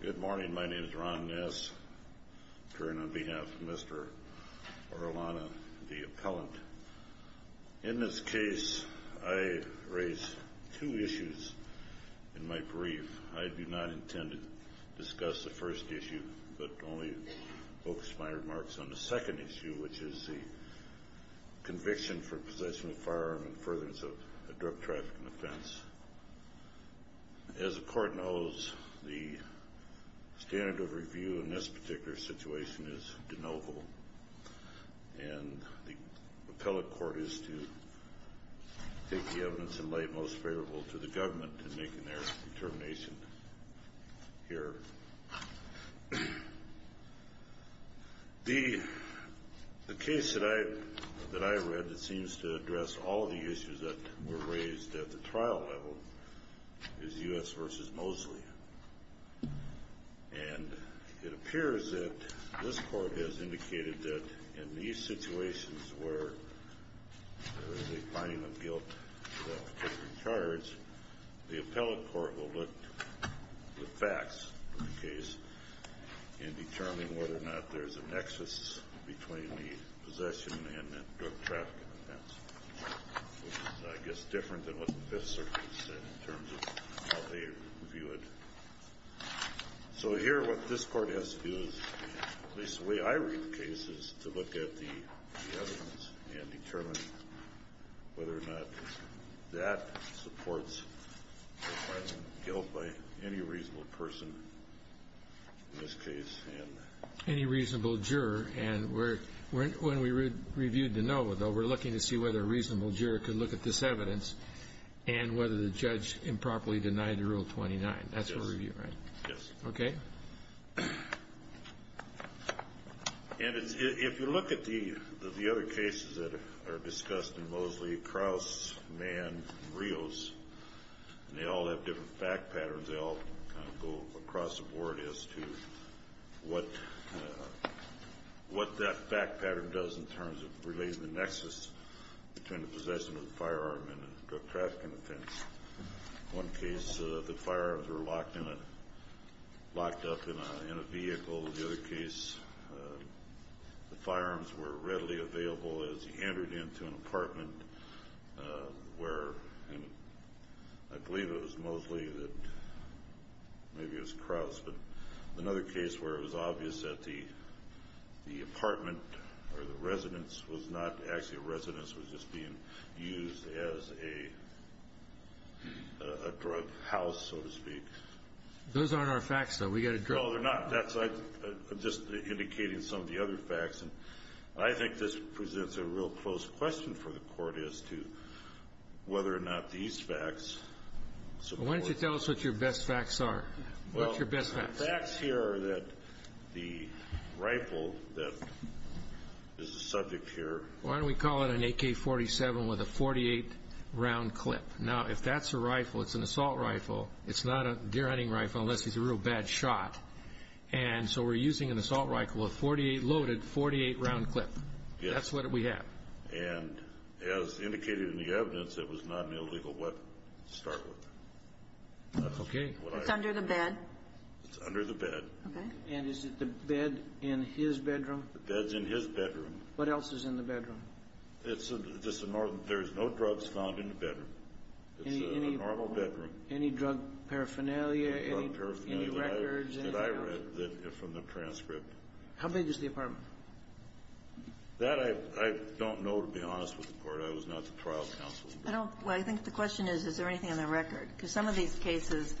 Good morning. My name is Ron Ness. I turn on behalf of Mr. Orellana, the appellant. In this case, I raise two issues in my brief. I do not intend to discuss the first issue, but only focus my remarks on the second issue, which is the conviction for possession of The standard of review in this particular situation is de novo, and the appellate court is to take the evidence in light most favorable to the government in making their determination here. The case that I read that seems to address all of the issues that were raised at the And it appears that this court has indicated that in these situations where there is a finding of guilt for that particular charge, the appellate court will look to the facts of the case in determining whether or not there is a nexus between the possession and drug trafficking offense, which is, I guess, different than what the Fifth Circuit said in terms of how they view it. So here, what this Court has to do is, at least the way I read the case, is to look at the evidence and determine whether or not that supports the finding of guilt by any reasonable person in this case. Any reasonable juror, and when we reviewed de novo, we're looking to see whether a reasonable juror could look at this evidence and whether the judge improperly denied Rule 29. That's what we're reviewing, right? Yes. Okay. And if you look at the other cases that are discussed in Mosley, Krauss, Mann, and Rios, they all have different fact patterns. They all kind of go across the board as to what that fact pattern does in terms of relating the nexus between the possession of the firearm and the drug trafficking offense. In one case, the firearms were locked up in a vehicle. In the other case, the firearms were readily available as he entered into an apartment where, I believe it was Mosley that, maybe it was Krauss, but another case where it was obvious that the apartment or the residence was not actually a residence, it was just being used as a drug house, so to speak. Those aren't our facts, though. We've got a drug house. No, they're not. I'm just indicating some of the other facts. I think this presents a real close question for the Court as to whether or not these facts support. Why don't you tell us what your best facts are? What's your best facts? Well, the facts here are that the rifle that is the subject here. Why don't we call it an AK-47 with a .48 round clip? Now, if that's a rifle, it's an assault rifle. It's not a deer-hunting rifle unless he's a real bad shot. And so we're using an assault rifle with a .48 loaded, .48 round clip. Yes. That's what we have. And as indicated in the evidence, it was not an illegal weapon to start with. Okay. It's under the bed. It's under the bed. Okay. And is it the bed in his bedroom? The bed's in his bedroom. What else is in the bedroom? It's just a normal. There's no drugs found in the bedroom. It's a normal bedroom. Any drug paraphernalia, any records? That I read from the transcript. How big is the apartment? That I don't know, to be honest with the Court. I was not the trial counsel. I don't know. Well, I think the question is, is there anything on the record? Because some of these cases,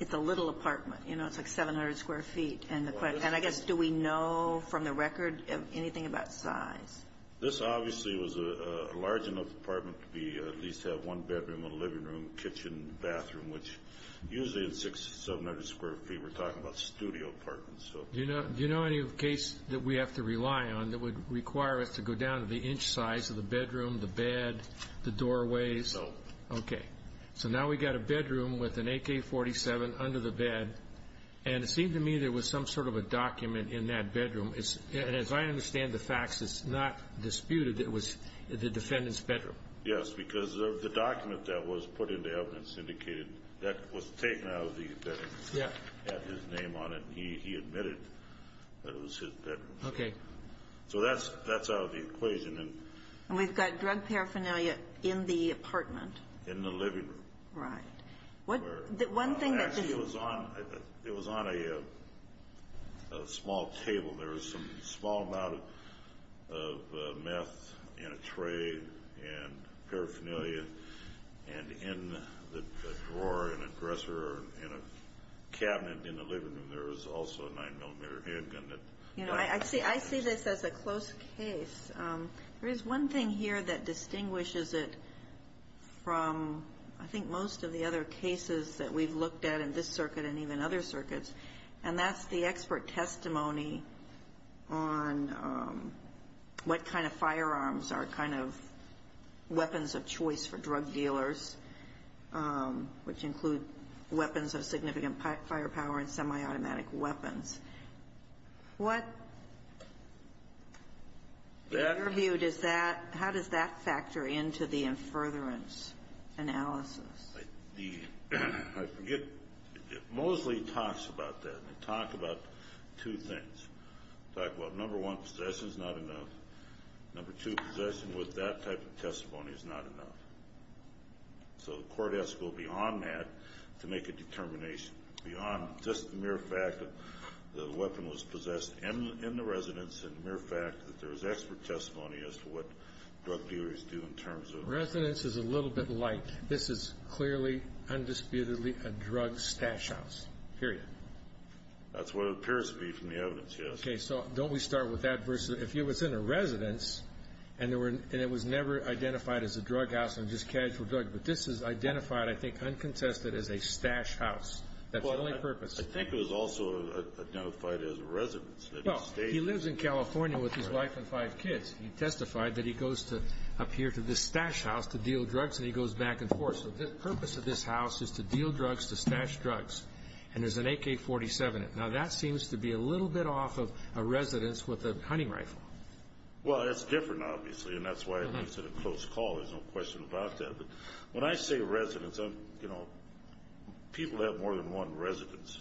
it's a little apartment. You know, it's like 700 square feet. And I guess, do we know from the record anything about size? This obviously was a large enough apartment to be at least have one bedroom and a living room, kitchen, bathroom, which usually is 600 to 700 square feet. We were talking about studio apartments. Do you know any case that we have to rely on that would require us to go down to the inch size of the bedroom, the bed, the doorway? No. Okay. So now we've got a bedroom with an AK-47 under the bed. And it seemed to me there was some sort of a document in that bedroom. And as I understand the facts, it's not disputed that it was the defendant's bedroom. Yes, because of the document that was put into evidence that was taken out of the evidence. Yeah. It had his name on it, and he admitted that it was his bedroom. Okay. So that's out of the equation. And we've got drug paraphernalia in the apartment. In the living room. Right. Actually, it was on a small table. There was some small amount of meth in a tray and paraphernalia. And in the drawer in a dresser or in a cabinet in the living room, there was also a 9-millimeter handgun. You know, I see this as a close case. There is one thing here that distinguishes it from, I think, most of the other cases that we've looked at in this circuit and even other circuits, and that's the expert testimony on what kind of firearms are kind of weapons of choice for drug dealers, which include weapons of significant firepower and semi-automatic weapons. What, in your view, does that, how does that factor into the in furtherance analysis? I forget. It mostly talks about that. They talk about two things. They talk about, number one, possession is not enough. Number two, possession with that type of testimony is not enough. So the court has to go beyond that to make a determination, beyond just the mere fact that the weapon was possessed in the residence and the mere fact that there was expert testimony as to what drug dealers do in terms of... This is clearly, undisputedly a drug stash house, period. That's what it appears to be from the evidence, yes. Okay. So don't we start with that versus if it was in a residence and it was never identified as a drug house and just casual drug, but this is identified, I think, uncontested as a stash house. That's the only purpose. I think it was also identified as a residence. Well, he lives in California with his wife and five kids. He testified that he goes up here to this stash house to deal drugs, and he goes back and forth. So the purpose of this house is to deal drugs, to stash drugs. And there's an AK-47. Now, that seems to be a little bit off of a residence with a hunting rifle. Well, that's different, obviously, and that's why it makes it a close call. There's no question about that. But when I say residence, you know, people have more than one residence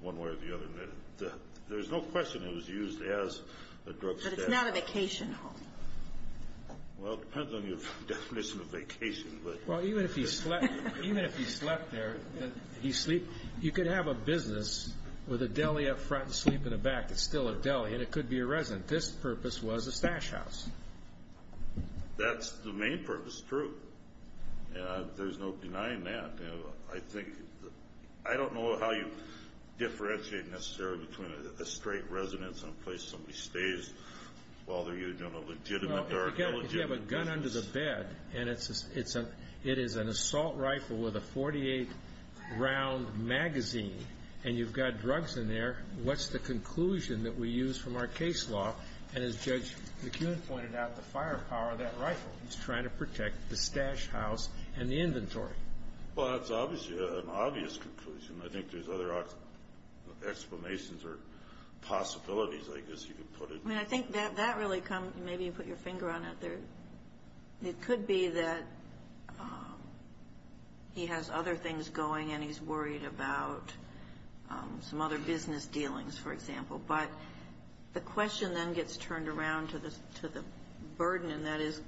one way or the other. There's no question it was used as a drug stash house. But it's not a vacation home. Well, it depends on your definition of vacation. Well, even if he slept there, you could have a business with a deli up front and sleep in the back. It's still a deli, and it could be a residence. This purpose was a stash house. That's the main purpose, true. There's no denying that. I don't know how you differentiate necessarily between a straight residence and a place somebody stays while they're using a legitimate or illegitimate business. If you have a gun under the bed and it is an assault rifle with a 48-round magazine and you've got drugs in there, what's the conclusion that we use from our case law? And as Judge McKeown pointed out, the firepower of that rifle is trying to protect the stash house and the inventory. Well, that's obviously an obvious conclusion. I think there's other explanations or possibilities, I guess you could put it. I mean, I think that really comes – maybe you put your finger on it. It could be that he has other things going and he's worried about some other business dealings, for example. But the question then gets turned around to the burden, and that is,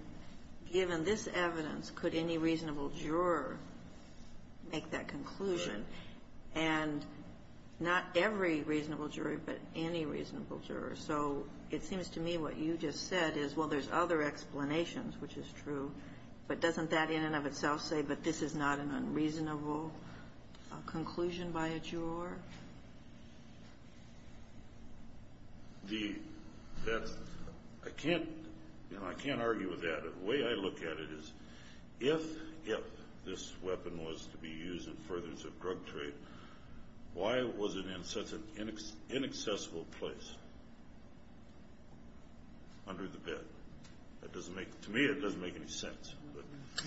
given this evidence, could any reasonable juror make that conclusion? And not every reasonable jury, but any reasonable juror. So it seems to me what you just said is, well, there's other explanations, which is true. But doesn't that in and of itself say that this is not an unreasonable conclusion by a juror? The – that's – I can't – you know, I can't argue with that. The way I look at it is, if this weapon was to be used in furtherance of drug trade, why was it in such an inaccessible place under the bed? That doesn't make – to me, that doesn't make any sense.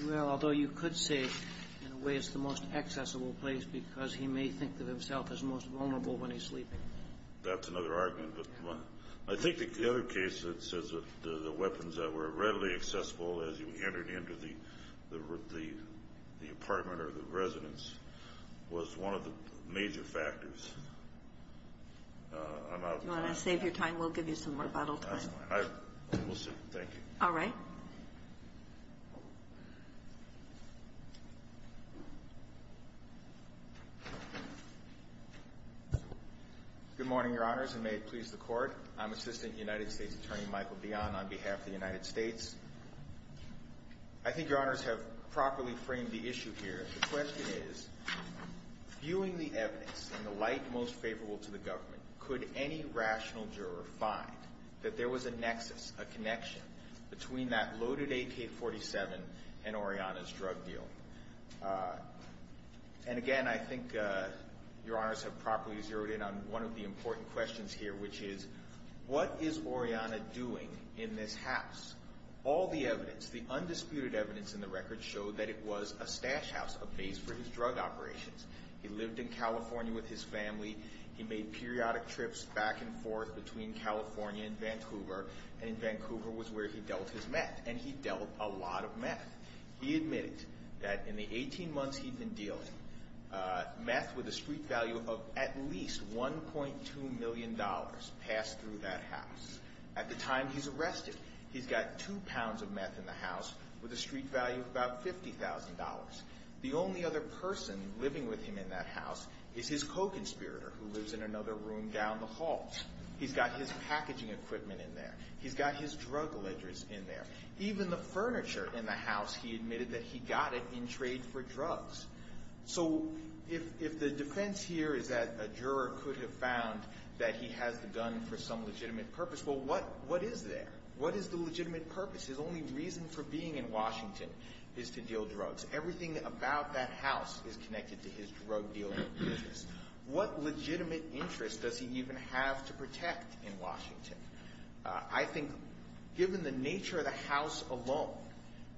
Well, although you could say, in a way, it's the most accessible place, because he may think of himself as most vulnerable when he's sleeping. That's another argument. But I think the other case that says that the weapons that were readily accessible as you entered into the apartment or the residence was one of the major factors. I'm out of time. Do you want to save your time? We'll give you some rebuttal time. That's fine. We'll save it. Thank you. All right. Good morning, Your Honors, and may it please the Court. I'm Assistant United States Attorney Michael Bion on behalf of the United States. I think Your Honors have properly framed the issue here. The question is, viewing the evidence in the light most favorable to the government, could any rational juror find that there was a nexus, a connection, between that loaded AK-47 and Oriana's drug deal? And again, I think Your Honors have properly zeroed in on one of the important questions here, which is, what is Oriana doing in this house? All the evidence, the undisputed evidence in the record, showed that it was a stash house, a base for his drug operations. He lived in California with his family. He made periodic trips back and forth between California and Vancouver, and Vancouver was where he dealt his meth, and he dealt a lot of meth. He admitted that in the 18 months he'd been dealing, meth with a street value of at least $1.2 million passed through that house. At the time he's arrested, he's got two pounds of meth in the house with a street value of about $50,000. The only other person living with him in that house is his co-conspirator, who lives in another room down the hall. He's got his packaging equipment in there. He's got his drug ledgers in there. Even the furniture in the house, he admitted that he got it in trade for drugs. So if the defense here is that a juror could have found that he has the gun for some legitimate purpose, well, what is there? What is the legitimate purpose? His only reason for being in Washington is to deal drugs. Everything about that house is connected to his drug dealing business. What legitimate interest does he even have to protect in Washington? I think given the nature of the house alone,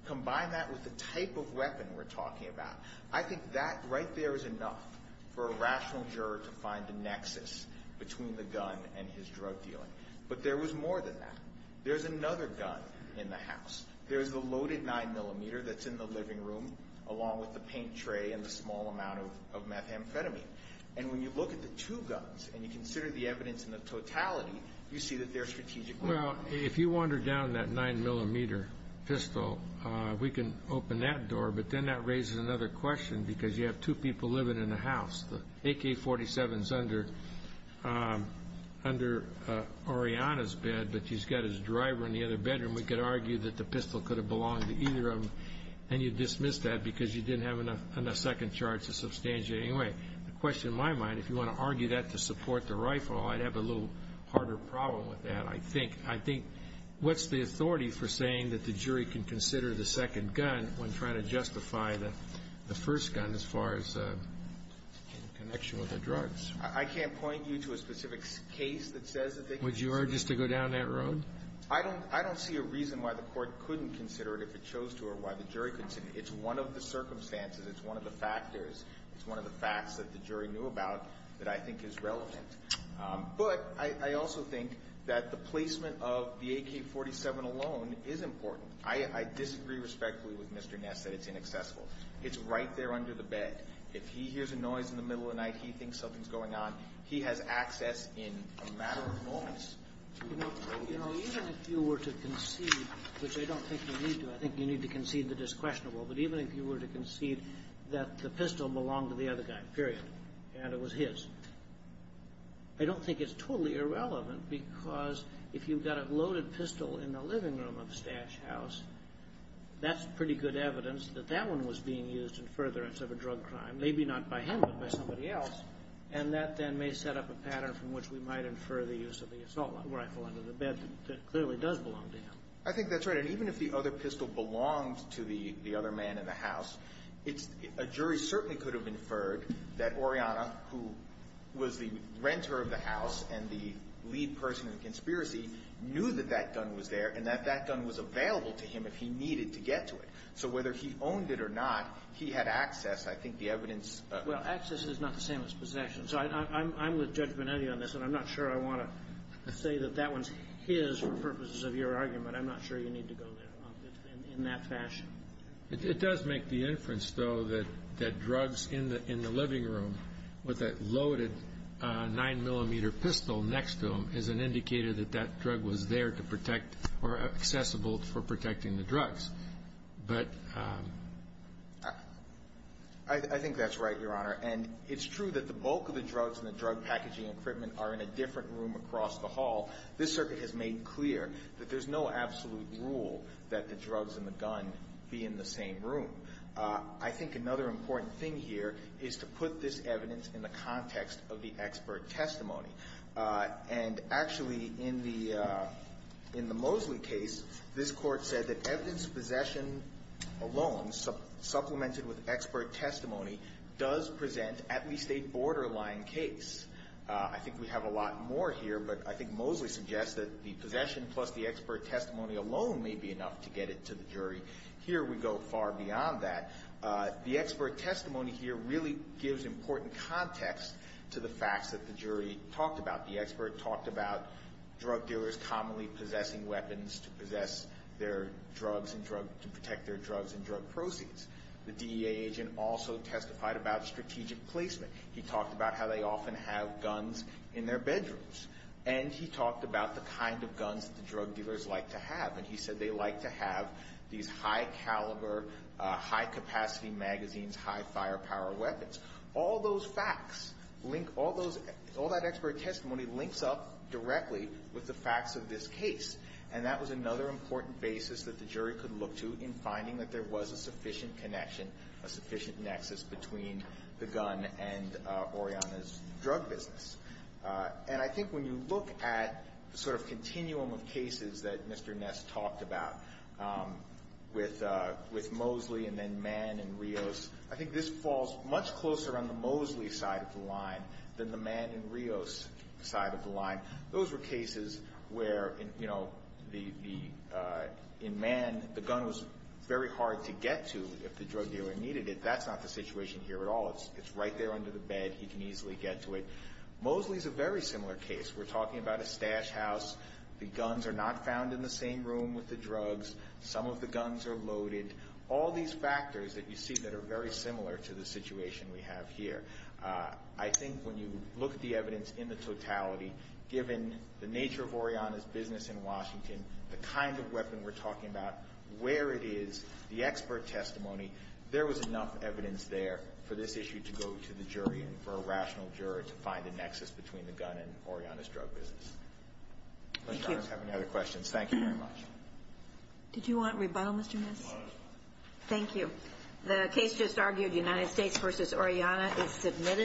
combine that with the type of weapon we're talking about, I think that right there is enough for a rational juror to find a nexus between the gun and his drug dealing. But there was more than that. There's another gun in the house. There's the loaded 9mm that's in the living room, along with the paint tray and the small amount of methamphetamine. And when you look at the two guns and you consider the evidence in the totality, you see that they're strategic weapons. Well, if you wander down that 9mm pistol, we can open that door, but then that raises another question because you have two people living in the house. The AK-47 is under Ariana's bed, but she's got his driver in the other bedroom. We could argue that the pistol could have belonged to either of them, and you'd dismiss that because you didn't have enough second charts to substantiate anyway. The question in my mind, if you want to argue that to support the rifle, I'd have a little harder problem with that. I think what's the authority for saying that the jury can consider the second gun when trying to justify the first gun as far as in connection with the drugs? I can't point you to a specific case that says that they can. Would you urge us to go down that road? I don't see a reason why the Court couldn't consider it if it chose to or why the jury couldn't consider it. It's one of the circumstances. It's one of the factors. It's one of the facts that the jury knew about that I think is relevant. But I also think that the placement of the AK-47 alone is important. I disagree respectfully with Mr. Ness that it's inaccessible. It's right there under the bed. If he hears a noise in the middle of the night, he thinks something's going on. He has access in a matter of moments. You know, even if you were to concede, which I don't think you need to. I think you need to concede the disquestionable. But even if you were to concede that the pistol belonged to the other guy, period, and it was his, I don't think it's totally irrelevant because if you've got a loaded pistol in the living room of Stash House, that's pretty good evidence that that one was being used in furtherance of a drug crime, maybe not by him but by somebody else, and that then may set up a pattern from which we might infer the use of the assault rifle under the bed that clearly does belong to him. I think that's right. And even if the other pistol belonged to the other man in the house, a jury certainly could have inferred that Oriana, who was the renter of the house and the lead person in the conspiracy, knew that that gun was there and that that gun was available to him if he needed to get to it. So whether he owned it or not, he had access. I think the evidence of that. Well, access is not the same as possession. So I'm with Judge Bonetti on this, and I'm not sure I want to say that that one's his for purposes of your argument. I'm not sure you need to go there in that fashion. It does make the inference, though, that drugs in the living room with a loaded 9-millimeter pistol next to them is an indicator that that drug was there to protect or accessible for protecting the drugs. But I think that's right, Your Honor. And it's true that the bulk of the drugs and the drug packaging equipment are in a different room across the hall. This circuit has made clear that there's no absolute rule that the drugs and the gun be in the same room. I think another important thing here is to put this evidence in the context of the expert testimony. And actually in the Mosley case, this Court said that evidence of possession alone, supplemented with expert testimony, does present at least a borderline case. I think we have a lot more here, but I think Mosley suggests that the possession plus the expert testimony alone may be enough to get it to the jury. Here we go far beyond that. The expert testimony here really gives important context to the facts that the jury talked about. The expert talked about drug dealers commonly possessing weapons to protect their drugs and drug proceeds. The DEA agent also testified about strategic placement. He talked about how they often have guns in their bedrooms. And he talked about the kind of guns that the drug dealers like to have. And he said they like to have these high-caliber, high-capacity magazines, high-firepower weapons. All those facts link all those, all that expert testimony links up directly with the facts of this case. And that was another important basis that the jury could look to in finding that there was a sufficient connection, a sufficient nexus between the gun and Oriana's drug business. And I think when you look at the sort of continuum of cases that Mr. Ness talked about, with Mosley and then Mann and Rios, I think this falls much closer on the Mosley side of the line than the Mann and Rios side of the line. Those were cases where, you know, in Mann, the gun was very hard to get to if the drug dealer needed it. That's not the situation here at all. It's right there under the bed. He can easily get to it. Mosley is a very similar case. We're talking about a stash house. The guns are not found in the same room with the drugs. Some of the guns are loaded. All these factors that you see that are very similar to the situation we have here. I think when you look at the evidence in the totality, given the nature of Oriana's business in Washington, the kind of weapon we're talking about, where it is, the expert testimony, there was enough evidence there for this issue to go to the jury and for a rational jury to find a nexus between the gun and Oriana's drug business. Thank you. If you have any other questions, thank you very much. Did you want rebuttal, Mr. Ness? Thank you. The case just argued, United States v. Oriana, is submitted.